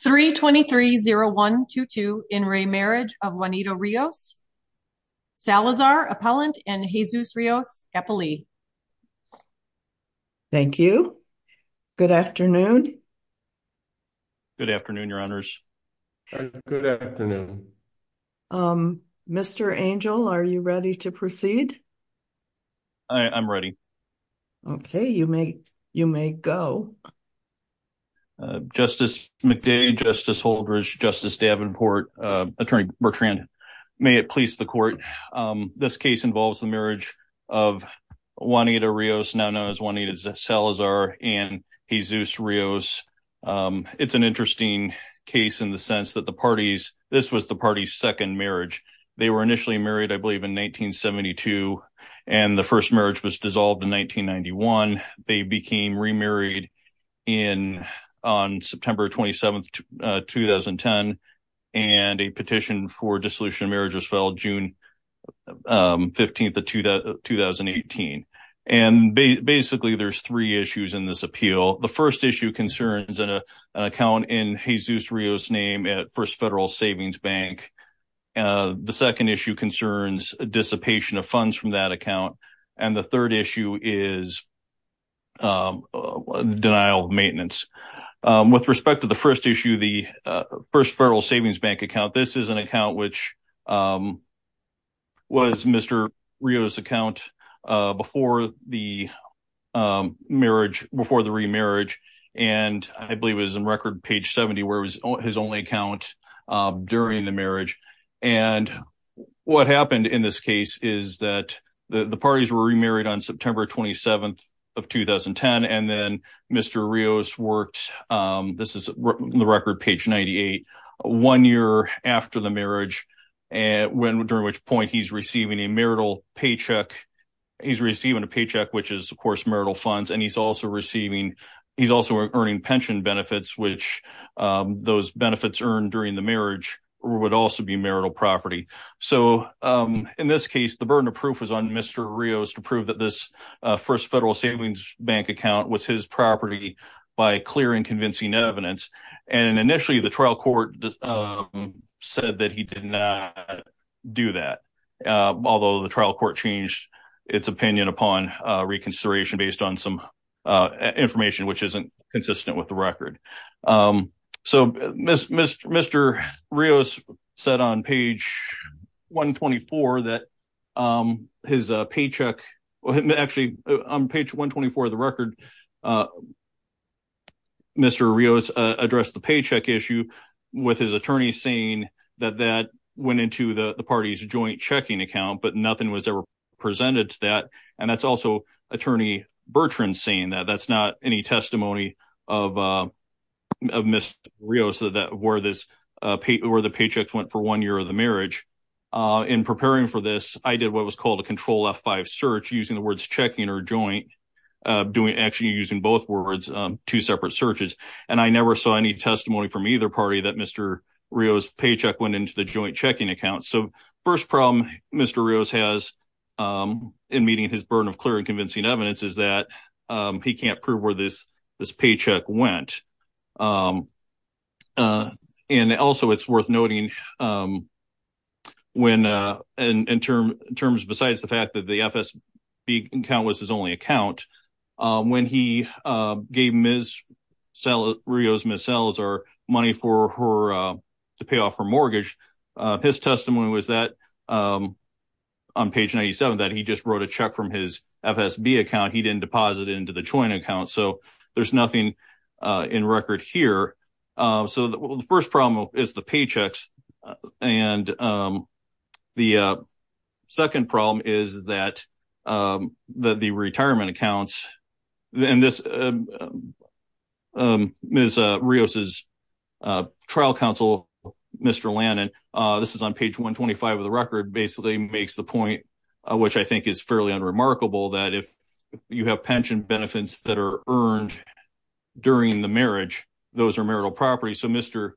3 23 0 1 2 2 in re marriage of Juanito Rios Salazar appellant and Jesus Rios happily. Thank you. Good afternoon. Good afternoon, your honors. Good afternoon. Mr. Angel, are you ready to proceed? I'm ready. Okay, you may you may go. Uh, Justice McDade, Justice Holdridge, Justice Davenport, uh, attorney Bertrand, may it please the court. Um, this case involves the marriage of Juanita Rios, now known as Juanita Salazar and Jesus Rios. Um, it's an interesting case in the sense that the parties, this was the party's second marriage. They were initially married, I believe in 1972 and the first marriage was dissolved in 1991. They became remarried in on September 27, 2010 and a petition for dissolution of marriage was filed June, um, 15th of 2018 and basically there's three issues in this appeal. The first issue concerns an account in Jesus Rios name at Federal Savings Bank. Uh, the second issue concerns a dissipation of funds from that account and the third issue is, um, denial of maintenance. Um, with respect to the first issue, the, uh, first Federal Savings Bank account, this is an account which, um, was Mr. Rios account, uh, before the, um, marriage, before the remarriage and I believe it was in record page 70 where his only account, um, during the marriage and what happened in this case is that the parties were remarried on September 27th of 2010 and then Mr. Rios worked, um, this is the record page 98, one year after the marriage and when, during which point he's receiving a marital paycheck. He's receiving a paycheck, which is of course marital funds and he's also receiving, he's also earning pension benefits, which, um, those benefits earned during the marriage would also be marital property. So, um, in this case, the burden of proof was on Mr. Rios to prove that this, uh, first Federal Savings Bank account was his property by clear and convincing evidence and initially the trial court, um, said that he did not do that. Uh, although the trial court changed its opinion upon, uh, reconsideration based on some, uh, information, which isn't consistent with the record. Um, so Mr. Rios said on page 124 that, um, his paycheck, actually on page 124 of the record, uh, Mr. Rios addressed the paycheck issue with his attorney saying that that went into the party's joint checking account, but nothing was ever presented to that. And that's also attorney Bertrand saying that that's not any testimony of, uh, of Mr. Rios that that were this, uh, pay or the paychecks went for one year of the marriage. Uh, in preparing for this, I did what was called a control F5 search using the words checking or joint, uh, doing actually using both words, um, two separate searches. And I never saw any from either party that Mr. Rios paycheck went into the joint checking account. So first problem Mr. Rios has, um, in meeting his burden of clear and convincing evidence is that, um, he can't prove where this, this paycheck went. Um, uh, and also it's worth noting, um, when, uh, in, in terms, in terms, besides the fact that the FSB account was his only account, um, when he, uh, gave Ms. Rios, Ms. Salazar money for her, uh, to pay off her mortgage, uh, his testimony was that, um, on page 97, that he just wrote a check from his FSB account. He didn't deposit it into the joint account. So there's nothing, uh, in record here. Uh, so the first problem is the paychecks. And, um, the, uh, second problem is that, um, that the retirement accounts and this, um, um, Ms. Rios' trial counsel, Mr. Lannon, uh, this is on page 125 of the record basically makes the point, uh, which I think is fairly unremarkable that if you have pension benefits that are earned during the marriage, those are marital property. So Mr.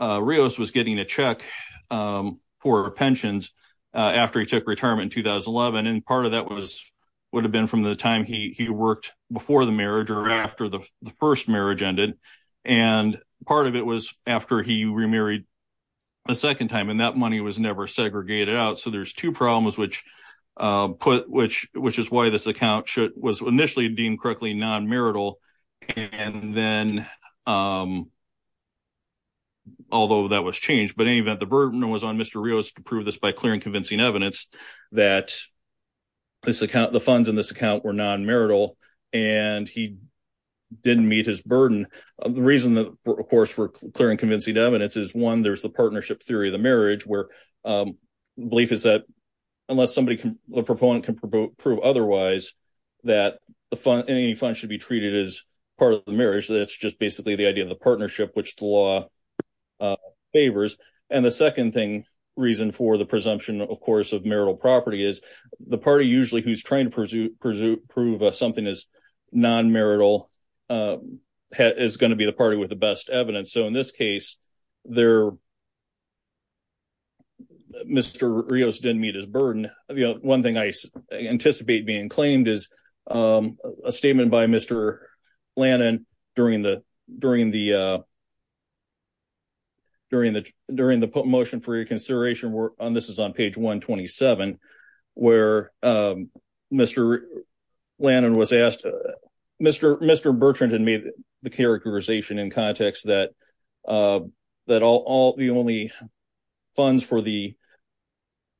Rios was getting a check, um, for pensions, uh, after he took retirement in 2011. And part of that was, would have been from the time he worked before the marriage or after the first marriage ended. And part of it was after he remarried a second time and that money was never segregated out. So there's two problems, which, uh, put, which, which is why this account was initially deemed correctly non-marital. And then, um, although that was changed, but in any this account, the funds in this account were non-marital and he didn't meet his burden. The reason that of course, we're clearing convincing evidence is one, there's the partnership theory of the marriage where, um, belief is that unless somebody can, the proponent can promote prove otherwise that the fund, any funds should be treated as part of the marriage. That's just basically the idea of the partnership, which the law, uh, favors. And the second thing, reason for the presumption of course, of marital property is the party. Usually who's trying to pursue, pursue, prove something as non-marital, um, is going to be the party with the best evidence. So in this case there, Mr. Rios didn't meet his burden. One thing I anticipate being claimed is, um, a statement by Mr. Lannan during the, during the, uh, during the, during the motion for your consideration. We're on, this is on page 127 where, um, Mr. Lannan was asked, uh, Mr. Mr. Bertrand had made the characterization in context that, uh, that all, all the only funds for the,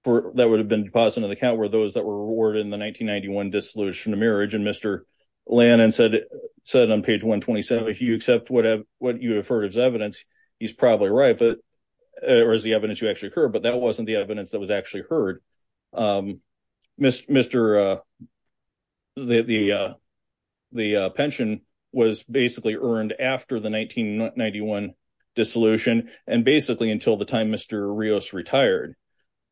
for that would have been deposited in the account were those that were awarded in the 1991 dissolution of marriage. And Mr. Lannan said, said on page 127, if you accept whatever, what you have heard as evidence, he's probably right, but it was the evidence you actually heard, but that wasn't the evidence that was actually heard. Um, Mr. uh, the, the, uh, the, uh, pension was basically earned after the 1991 dissolution and basically until the time Mr. Rios retired.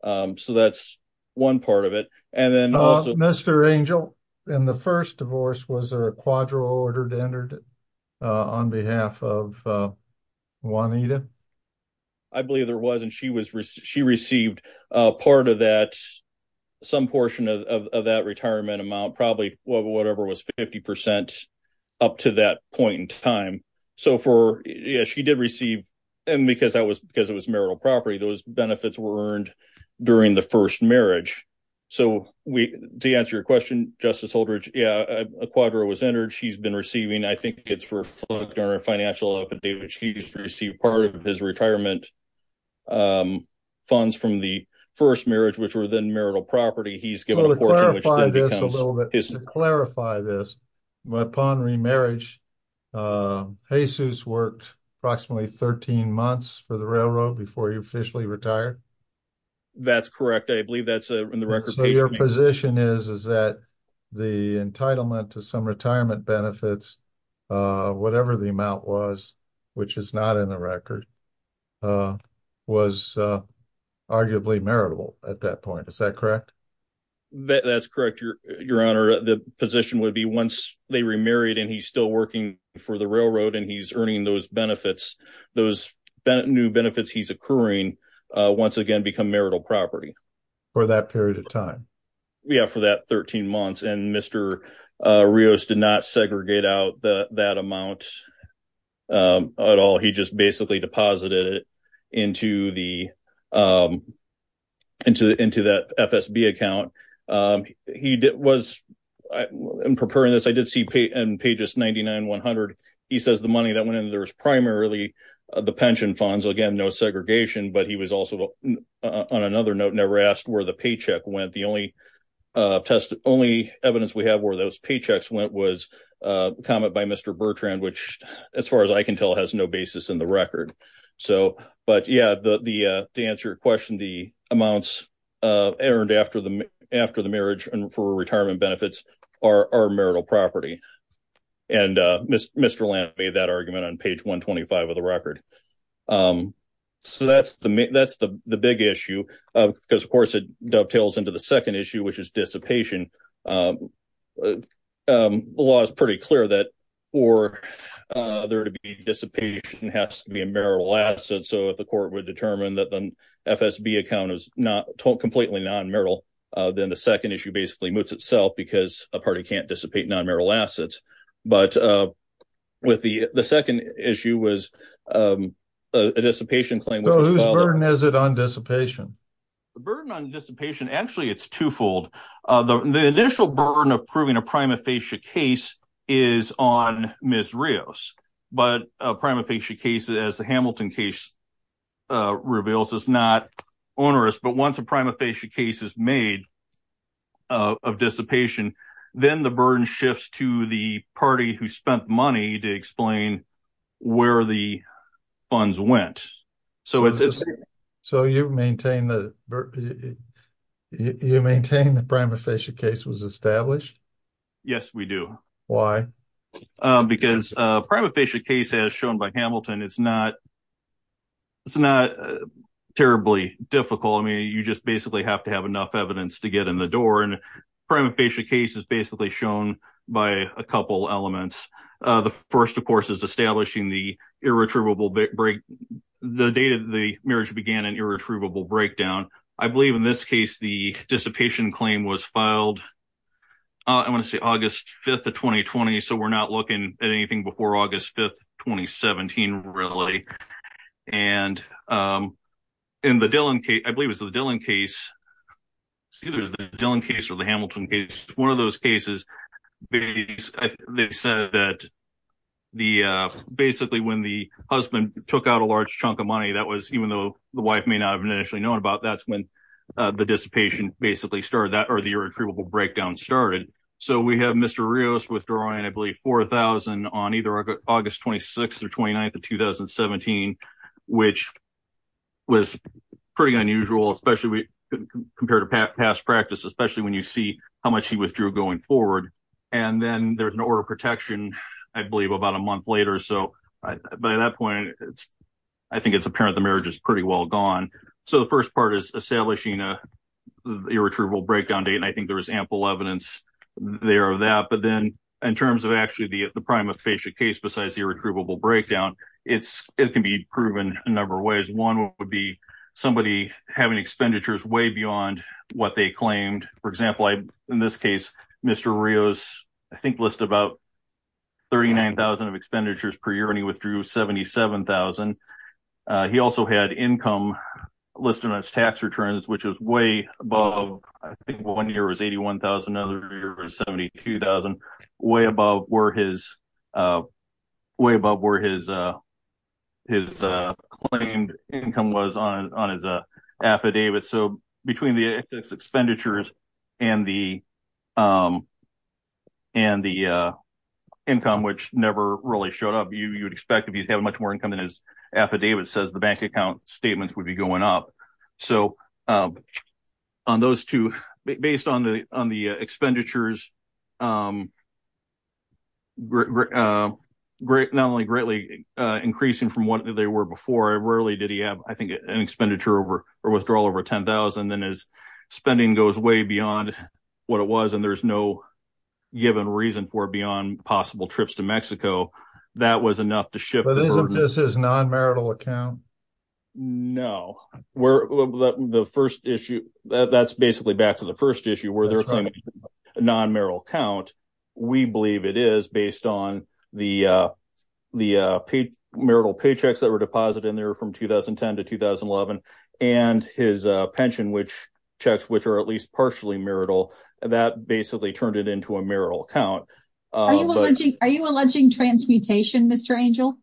Um, so that's one part of it. Mr. Angel, in the first divorce, was there a quadro order entered, uh, on behalf of Juanita? I believe there was, and she was, she received a part of that, some portion of that retirement amount, probably whatever was 50% up to that point in time. So for, yeah, she did receive, and because that was, because it was marital property, those benefits were earned during the first marriage. So we, to answer your question, Justice Holdridge, yeah, a quadro was entered. She's been receiving, I think it's for a financial update, which he's received part of his retirement, um, funds from the first marriage, which were then marital property. He's given a portion, which then becomes... To clarify this a little bit, to clarify this, upon remarriage, Jesus worked approximately 13 months for the railroad before he officially retired. That's correct. I believe that's, uh, in the record. So your position is, is that the entitlement to some retirement benefits, uh, whatever the amount was, which is not in the record, uh, was, uh, arguably maritable at that point. Is that correct? That's correct, Your Honor. The position would be once they remarried and he's still working for the railroad and he's earning those benefits, those new benefits he's accruing, uh, once again, become marital property. For that period of time? Yeah, for that 13 months. And Mr. Rios did not segregate out that amount, um, at all. He just basically deposited it into the, um, into, into that FSB account. Um, he did, I'm preparing this. I did see in pages 99, 100, he says the money that went into there was primarily, uh, the pension funds, again, no segregation, but he was also on another note, never asked where the paycheck went. The only, uh, test, only evidence we have where those paychecks went was, uh, comment by Mr. Bertrand, which as far as I can tell, has no basis in the record. So, but yeah, the, uh, to answer your question, the amounts, uh, earned after the, after the marriage and for retirement benefits are, are marital property. And, uh, Mr. Lamp made that argument on page 125 of the record. Um, so that's the, that's the, the big issue of, because of course it dovetails into the second issue, which is dissipation. Um, um, the law is pretty clear that for, uh, there to be dissipation has to be a marital asset. So if the court would FSB account is not completely non-marital, uh, then the second issue basically moots itself because a party can't dissipate non-marital assets. But, uh, with the, the second issue was, um, a dissipation claim. Whose burden is it on dissipation? The burden on dissipation, actually it's twofold. Uh, the, the initial burden of proving a prima facie case is on Ms. Rios. But a prima facie case, as the Hamilton case, uh, reveals is not onerous. But once a prima facie case is made, uh, of dissipation, then the burden shifts to the party who spent money to explain where the funds went. So it's, so you maintain the, you maintain the prima facie case was established? Yes, we do. Why? Because a prima facie case as shown by Hamilton, it's not, it's not terribly difficult. I mean, you just basically have to have enough evidence to get in the door. And a prima facie case is basically shown by a couple elements. Uh, the first of course is establishing the irretrievable break, the date of the marriage began an irretrievable breakdown. I believe in this case, the dissipation claim was filed. Uh, I want to say August 5th of 2020. So we're not looking at anything before August 5th, 2017, really. And, um, in the Dillon case, I believe it was the Dillon case. It was the Dillon case or the Hamilton case. One of those cases, they said that the, uh, basically when the husband took out a large chunk of money, that was even though the wife may not have initially known about that's when the dissipation basically started that or the irretrievable breakdown started. So we have Mr. Rios withdrawing, I believe 4,000 on either August 26th or 29th of 2017, which was pretty unusual, especially compared to past practice, especially when you see how much he withdrew going forward. And then there's an order of protection, I believe about a month later. So by that point, it's, I think it's marriage is pretty well gone. So the first part is establishing a irretrievable breakdown date. And I think there was ample evidence there of that, but then in terms of actually the, the prima facie case, besides the irretrievable breakdown, it's, it can be proven a number of ways. One would be somebody having expenditures way beyond what they claimed. For example, I, in this case, Mr. Rios, I think list about 39,000 of expenditures per year, and he withdrew 77,000. He also had income listed on his tax returns, which was way above, I think one year was 81,000, another year was 72,000, way above where his, way above where his, his claimed income was on, on his affidavit. So between the expenditures and the, and the income, which never really showed up, you would expect if you'd have much more income than his affidavit says, the bank account statements would be going up. So on those two, based on the, on the expenditures, not only greatly increasing from what they were before, rarely did he have, I think, an expenditure over or withdrawal over 10,000, then his spending goes way beyond what it was. There's no given reason for beyond possible trips to Mexico. That was enough to shift. But isn't this his non-marital account? No, we're the first issue that's basically back to the first issue where they're claiming non-marital account. We believe it is based on the, the paid marital paychecks that were deposited in there from 2010 to 2011 and his pension, which checks, which are at least partially marital, that basically turned it into a marital account. Are you alleging, are you alleging transmutation, Mr. Angel?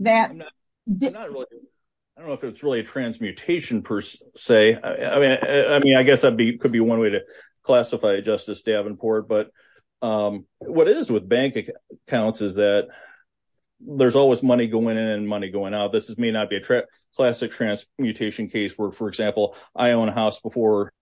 That, I don't know if it's really a transmutation per se. I mean, I mean, I guess that'd be, could be one way to classify Justice Davenport, but what it is with bank accounts is that there's always money going in and money going out. This is may not be a classic transmutation case where, for example, I own a house before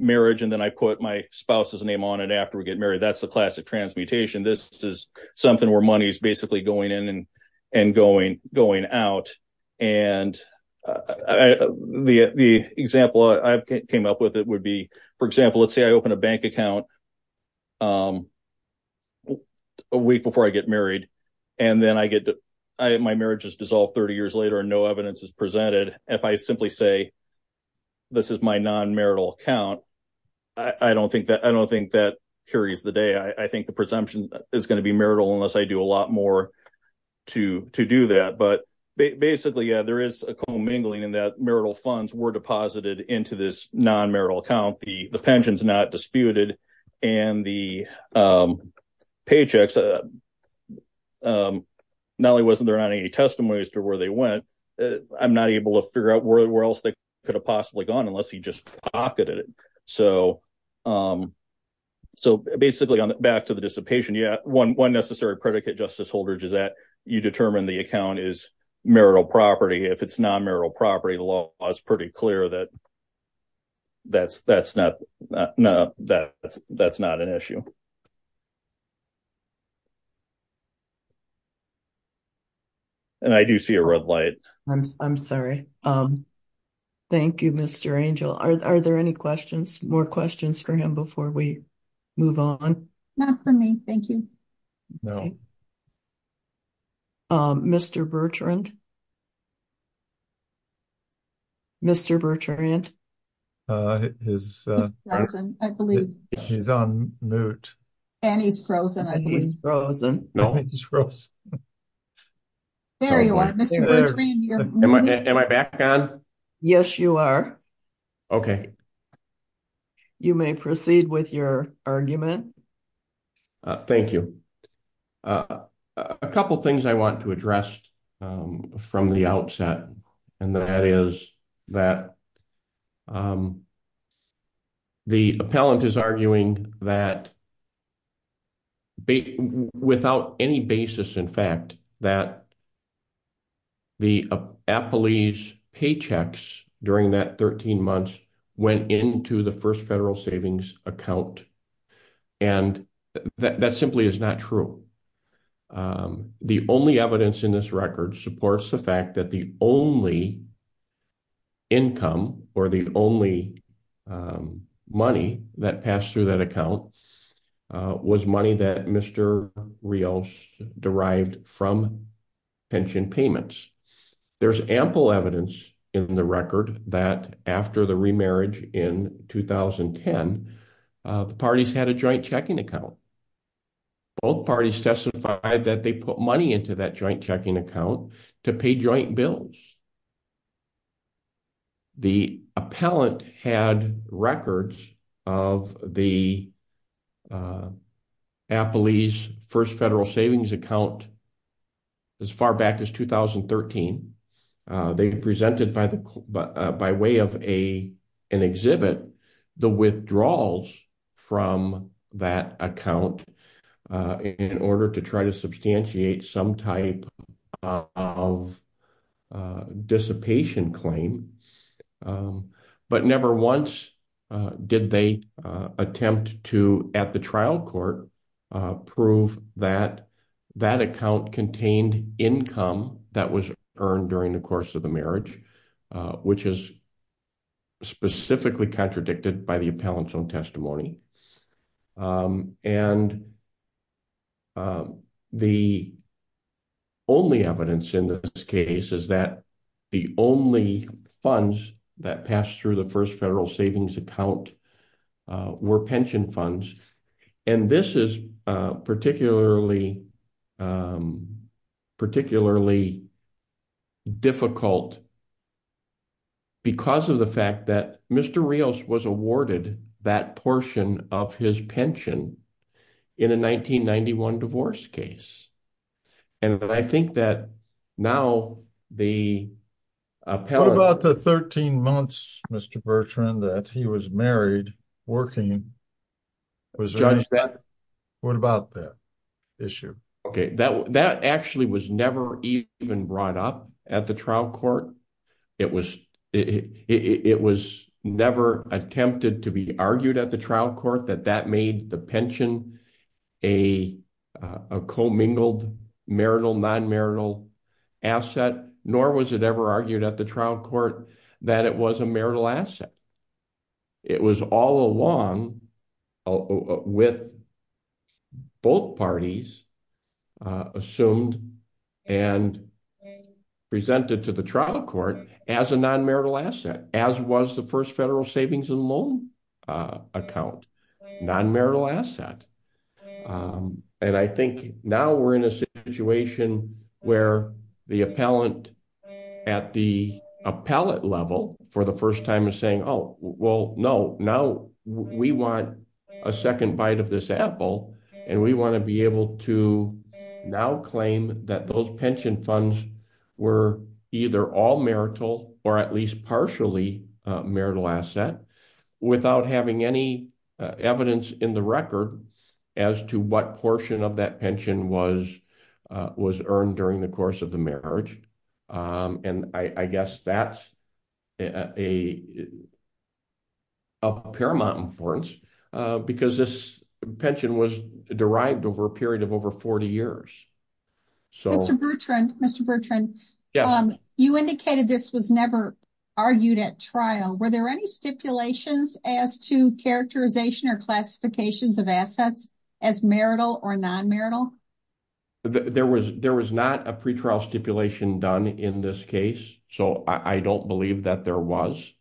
marriage, and then I put my spouse's name on it after we get married. That's the classic transmutation. This is something where money is basically going in and going, going out. And the, the example I've came up with, it would be, for example, let's say I open a bank account a week before I get married, and then I get, my marriage is dissolved 30 years later and no evidence is presented. If I simply say this is my non-marital account, I don't think that, I don't think that carries the day. I think the presumption is going to be marital unless I do a lot more to, to do that. But basically, yeah, there is a commingling in that marital funds were deposited into this non-marital account. The pension's not disputed, and the paychecks, not only was there not any testimony as to where they went, I'm not able to figure out where else they could have possibly gone unless he just pocketed it. So, so basically, back to the dissipation, yeah, one, one necessary predicate, Justice Holdridge, is that you determine the account is marital property. If it's non-marital property, the law is pretty clear that that's, that's not, no, that's, that's not an issue. And I do see a red light. I'm, I'm sorry. Thank you, Mr. Angel. Are there any questions, more questions for him before we move on? Not for me, thank you. No. Mr. Bertrand? Mr. Bertrand? He's frozen, I believe. He's on mute. And he's frozen. He's frozen. No, he's frozen. There you are, Mr. Bertrand. Am I, am I back on? Yes, you are. Okay. Okay. You may proceed with your argument. Thank you. A couple things I want to address from the outset, and that is that the appellant is arguing that, without any basis, in fact, that the appellee's paychecks during that 13 months went into the first federal savings account. And that simply is not true. The only evidence in this record supports the fact that the only income, or the only money that passed through that account was money that Mr. Rios derived from pension payments. There's ample evidence in the record that after the remarriage in 2010, the parties had a joint checking account. Both parties testified that they put money into that joint checking account to pay joint bills. The appellant had records of the appellee's first federal savings account as far back as 2013. They presented by way of an exhibit the withdrawals from that account in order to try to substantiate some type of of dissipation claim. But never once did they attempt to, at the trial court, prove that that account contained income that was earned during the course of the marriage, which is specifically contradicted by the appellant's own testimony. And the only evidence in this case is that the only funds that passed through the first federal savings account were pension funds. And this is particularly, particularly difficult because of the fact that Mr. Rios was awarded that portion of his pension in a 1991 divorce case. And I think that now the appellate... What about the 13 months, Mr. Bertrand, that he was married, working? What about that issue? Okay, that actually was never even brought up at the trial court. It was never attempted to be at the trial court that that made the pension a commingled marital, non-marital asset, nor was it ever argued at the trial court that it was a marital asset. It was all along with both parties assumed and presented to the trial court as a non-marital asset, as was the first federal savings and loan account, non-marital asset. And I think now we're in a situation where the appellant at the appellate level for the first time is saying, oh, well, no, now we want a second bite of this apple and we want to be able to now claim that those pension funds were either all marital or at least partially marital asset without having any evidence in the record as to what portion of that pension was earned during the course of the marriage. And I guess that's of paramount importance because this pension was derived over a period of over 40 years. Mr. Bertrand, you indicated this was never argued at trial. Were there any stipulations as to characterization or classifications of assets as marital or non-marital? There was not a pretrial stipulation done in this case, so I don't believe that there was.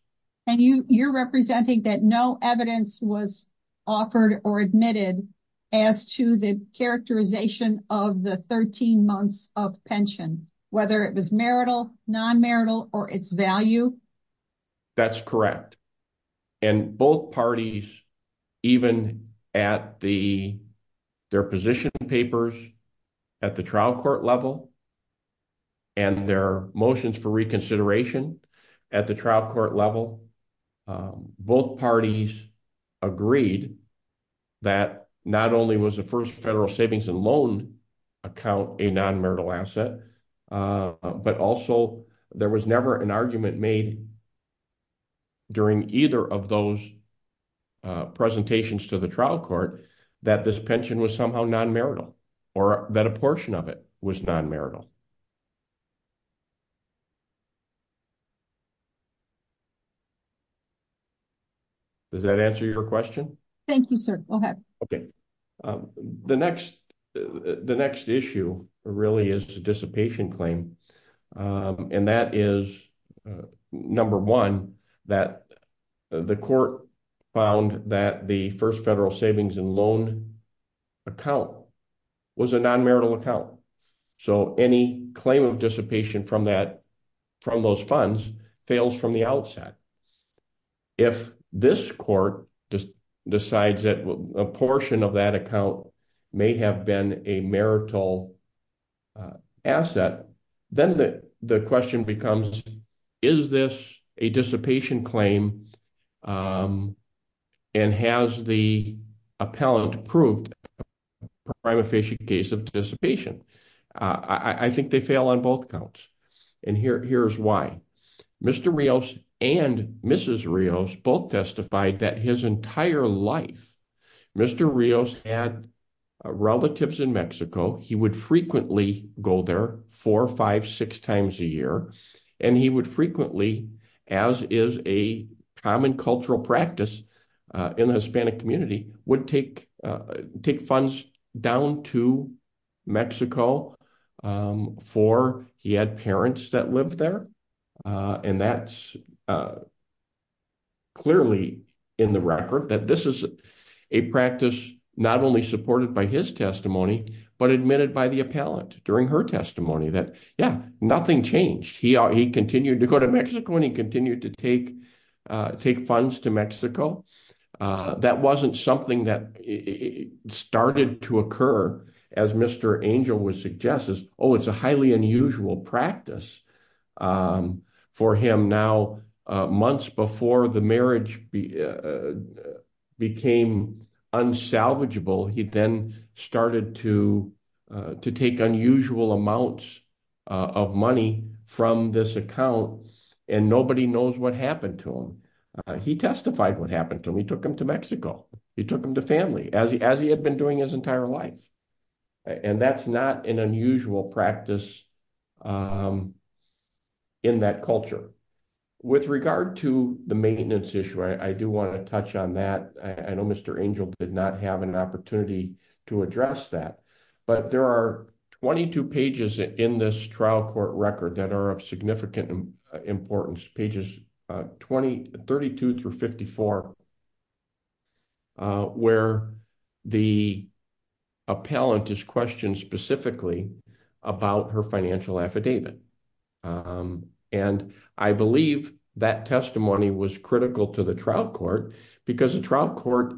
And you're representing that no evidence was offered or admitted as to the characterization of the 13 months of pension, whether it was marital, non-marital or its value? That's correct. And both parties, even at their position papers at the trial court level and their motions for reconsideration at the trial court level, both parties agreed that not only was the first federal savings and loan account a non-marital asset, but also there was never an argument made during either of those presentations to the trial court that this pension was somehow non-marital or that a portion of it was non-marital. Does that answer your question? Thank you, sir. Go ahead. Okay. The next issue really is the dissipation claim. And that is, number one, that the court found that the first federal savings and loan account was a non-marital account. So any claim of dissipation from those funds fails from the outset. If this court decides that a portion of that account may have been a marital asset, then the question becomes, is this a dissipation claim? And has the appellant proved a prima facie case of dissipation? I think they fail on both accounts. And here's why. Mr. Rios and Mrs. Rios both testified that his entire life, Mr. Rios had relatives in Mexico. He would frequently go there four, five, six times a year. And he would frequently, as is a common cultural practice in the Hispanic community, would take funds down to Mexico for, he had parents that lived there. And that's clearly in the record, that this is a practice not only supported by his testimony, but admitted by the appellant during her testimony that, yeah, nothing changed. He continued to go to Mexico and he continued to take funds to Mexico. That wasn't something that started to occur, as Mr. Angel would suggest, oh, it's a highly unusual practice for him. Now, months before the marriage became unsalvageable, he then started to take unusual amounts of money from this account, and nobody knows what happened to him. He testified what happened to him. He took him to Mexico. He took him to family, as he had been doing his entire life. And that's not an unusual practice in that culture. With regard to the maintenance issue, I do want to touch on that. I know Mr. Angel did not have an opportunity to address that, but there are 22 pages in this trial court record that are of significant importance, pages 32 through 54, where the appellant is questioned specifically about her financial affidavit. And I believe that testimony was critical to the trial court, because the trial court,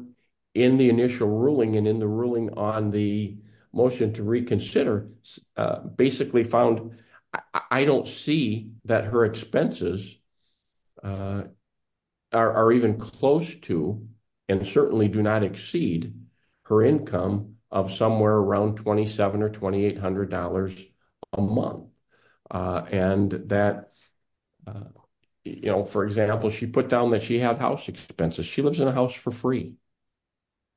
in the initial ruling and in the ruling on the motion to reconsider, basically found, I don't see that her expenses are even close to and certainly do not exceed her income of somewhere around $2,700 or $2,800 a month. And that, you know, for example, she put down that she had house expenses. She lives in a house for free.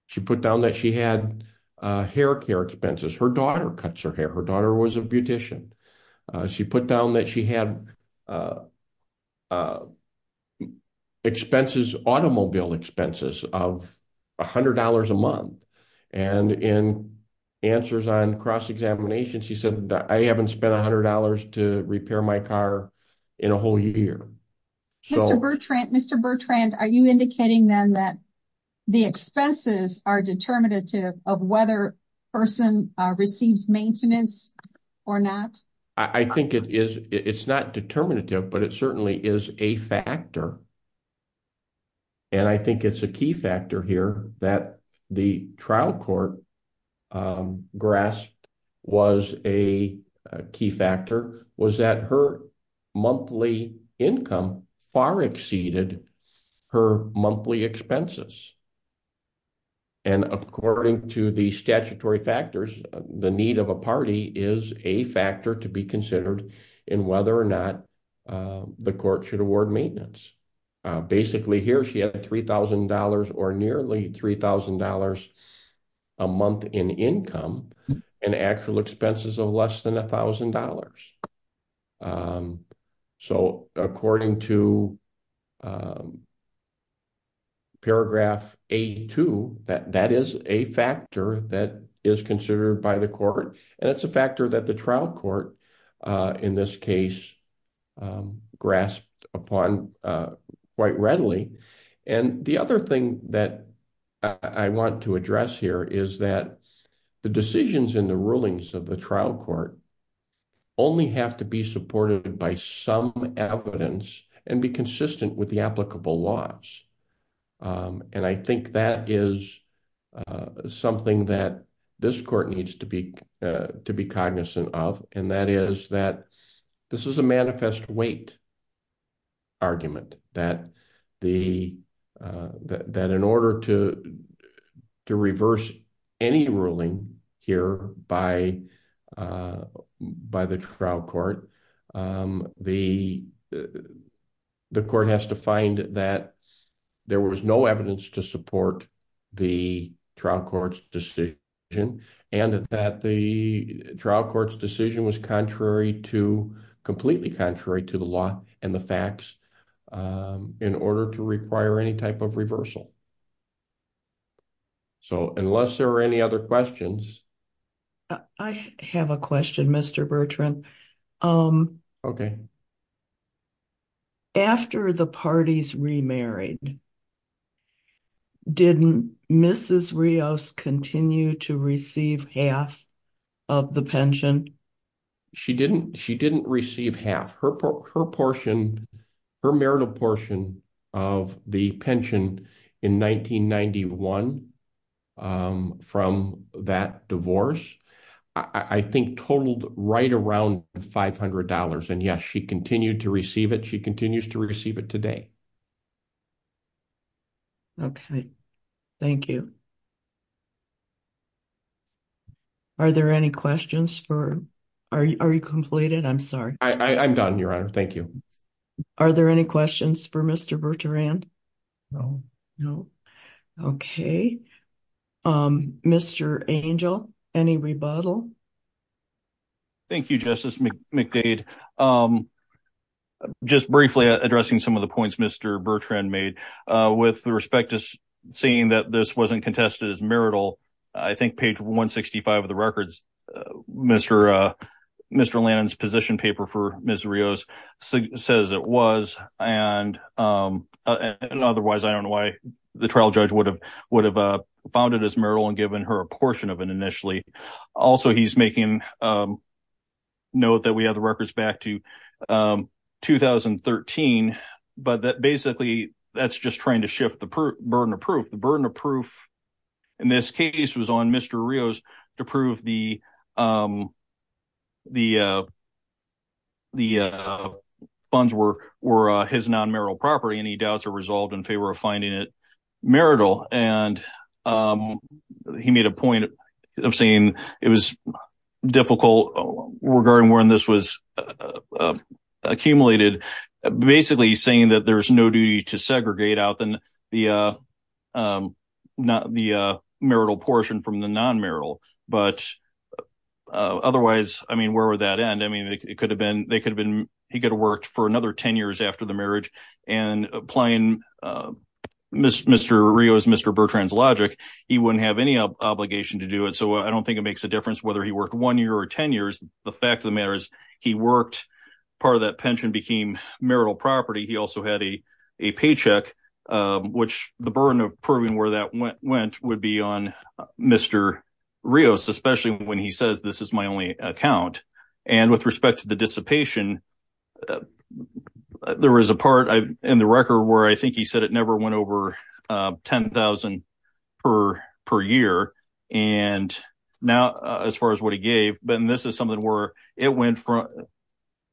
She put down that she had hair care expenses. Her daughter cuts her hair. Her daughter was a beautician. She put down that she had expenses, automobile expenses of $100 a month. And in answers on cross-examination, she said, I haven't spent $100 to repair my car in a whole year. Mr. Bertrand, are you indicating then that the expenses are determinative of whether a person receives maintenance or not? I think it is. It's not determinative, but it certainly is a factor. And I think it's a key factor here that the trial court grasped was a key factor, was that her monthly income far exceeded her monthly expenses. And according to the statutory factors, the need of a party is a factor to be considered in whether or not the court should award maintenance. Basically here, she had $3,000 or nearly $3,000 a month in income and actual expenses of less than $1,000. So, according to paragraph 82, that is a factor that is considered by the court. And it's a factor that the trial court, in this case, grasped upon quite readily. And the other thing that I want to address here is that the decisions in the rulings of the trial court only have to be supported by some evidence and be consistent with the applicable laws. And I think that is something that this court needs to be cognizant of, and that is that this is a manifest weight argument that in order to reverse any ruling here by the trial court, the court has to find that there was no evidence to support the trial court's decision, and that the trial court's decision was completely contrary to the law and the facts in order to require any type of reversal. So, unless there are any other questions. I have a question, Mr. Bertrand. Okay. After the parties remarried, didn't Mrs. Rios continue to receive half of the pension? She didn't. She didn't receive half. Her portion, her marital portion of the pension in 1991 from that divorce, I think totaled right around $500. And yes, she continued to receive it. She continues to receive it today. Okay. Thank you. Are there any questions for... Are you completed? I'm sorry. I'm done, Your Honor. Thank you. Are there any questions for Mr. Bertrand? No. No. Okay. Mr. Angel, any rebuttal? Thank you, Justice McDade. Just briefly addressing some of the points Mr. Bertrand made. With respect to saying that this wasn't contested as marital, I think page 165 of the records, Mr. Lannon's position paper for Mrs. Rios says it was. And otherwise, I don't know why the trial judge would have found it as marital and given her a portion of it initially. Also, he's making note that we have the records back to 2013, but that basically, that's just trying to shift the burden of proof. The burden of proof in this case was on Mr. Rios to prove the funds were his non-marital property. Any doubts are resolved in favor of finding it marital. And he made a point of saying it was difficult regarding when this was accumulated, basically saying that there's no duty to segregate out the marital portion from the non-marital. But otherwise, I mean, where would that end? I mean, it could have been, he could have worked for another 10 years after the marriage and applying Mr. Rios, Mr. Bertrand's logic, he wouldn't have any obligation to do it. So, I don't think it makes a difference whether he worked one year or 10 years. The fact of the matter is he worked, part of that pension became marital property. He also had a paycheck, which the burden of proving where that went would be on Mr. Rios, especially when he says this is my only account. And with respect to the dissipation, there was a part in the record where I think he said it never went over 10,000 per year. And now, as far as what he gave, then this is something where it went from,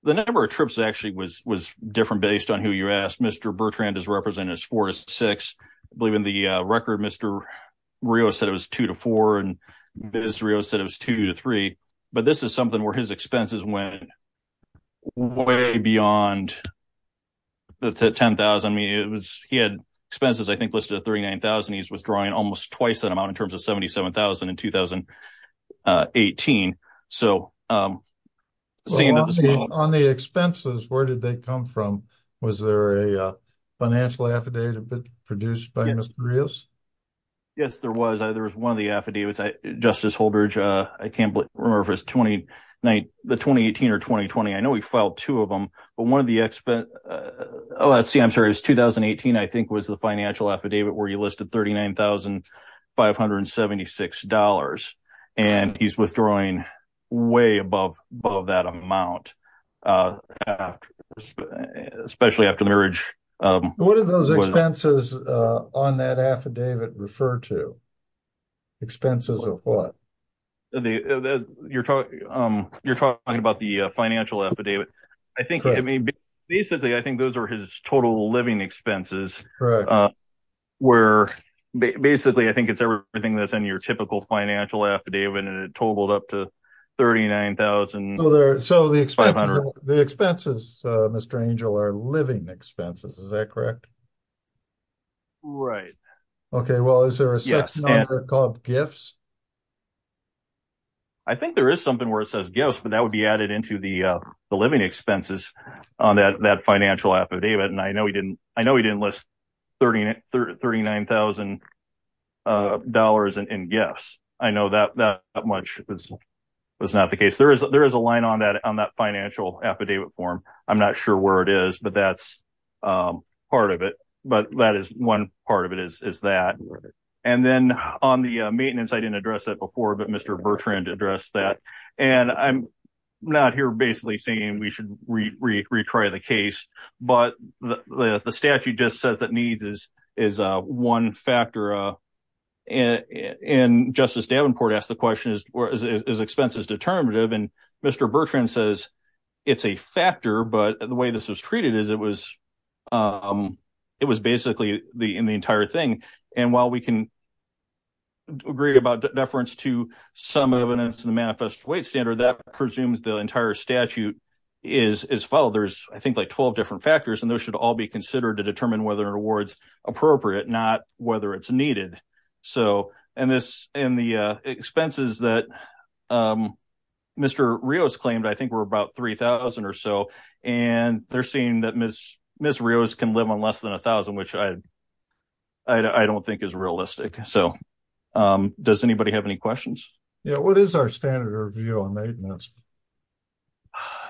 the number of trips actually was different based on who you asked. Mr. Bertrand is represented as four to six. I believe in the record, Mr. Rios said it was two to four. And Ms. Rios said it was two to three. But this is something where his expenses went way beyond the 10,000. I mean, it was, he had expenses, I think, listed at 39,000. He's withdrawing almost twice that amount in terms of 77,000 in 2018. So, on the expenses, where did they come from? Was there a financial affidavit produced by Mr. Rios? Yes, there was. There was one of the affidavits. Justice Holdridge, I can't remember if it was the 2018 or 2020. I know he filed two of them. But one of the expenses, oh, let's see, I'm sorry, it was 2018, I think, was the financial affidavit where he listed $39,576. And he's withdrawing way above that amount, especially after marriage. What did those expenses on that affidavit refer to? Expenses of what? You're talking about the financial affidavit. I think, I mean, basically, I think those are his living expenses. Basically, I think it's everything that's in your typical financial affidavit, and it totaled up to $39,500. So, the expenses, Mr. Angel, are living expenses, is that correct? Right. Okay, well, is there a second number called gifts? I think there is something where it says gifts, but that would be added into the living expenses on that financial affidavit. And I know he didn't list $39,000 in gifts. I know that much was not the case. There is a line on that financial affidavit form. I'm not sure where it is, but that's part of it. But that is one part of it is that. And then on the maintenance, I didn't address that before, but Mr. Bertrand addressed that. And I'm not here, basically, saying we should retry the case. But the statute just says that needs is one factor. And Justice Davenport asked the question, is expenses determinative? And Mr. Bertrand says it's a factor, but the way this was treated is it was basically in the entire thing. And while we can agree about deference to some evidence in the weight standard, that presumes the entire statute is followed. There's, I think, like 12 different factors, and those should all be considered to determine whether an award's appropriate, not whether it's needed. And the expenses that Mr. Rios claimed, I think were about $3,000 or so. And they're saying that Ms. Rios can live on less than $1,000, which I don't think is realistic. So what is our standard review on maintenance?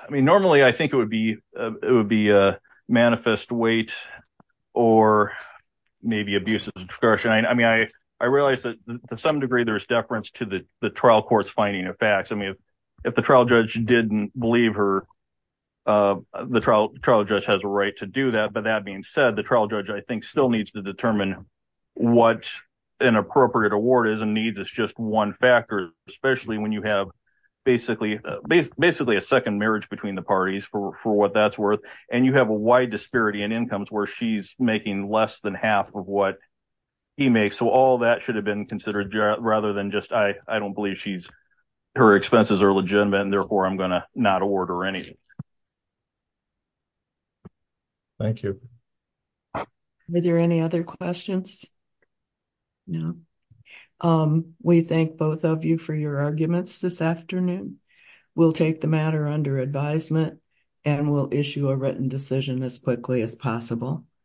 I mean, normally, I think it would be a manifest weight or maybe abuse of discretion. I mean, I realized that to some degree, there's deference to the trial court's finding of facts. I mean, if the trial judge didn't believe her, the trial judge has a right to do that. But that being said, the trial judge, I think, still needs to determine what an appropriate award is and needs. It's just one factor, especially when you have basically a second marriage between the parties for what that's worth. And you have a wide disparity in incomes where she's making less than half of what he makes. So all that should have been considered rather than just, I don't believe her expenses are legitimate, and therefore, I'm going to not award her anything. Thank you. Are there any other questions? No. We thank both of you for your arguments this afternoon. We'll take the matter under advisement, and we'll issue a written decision as quickly as possible.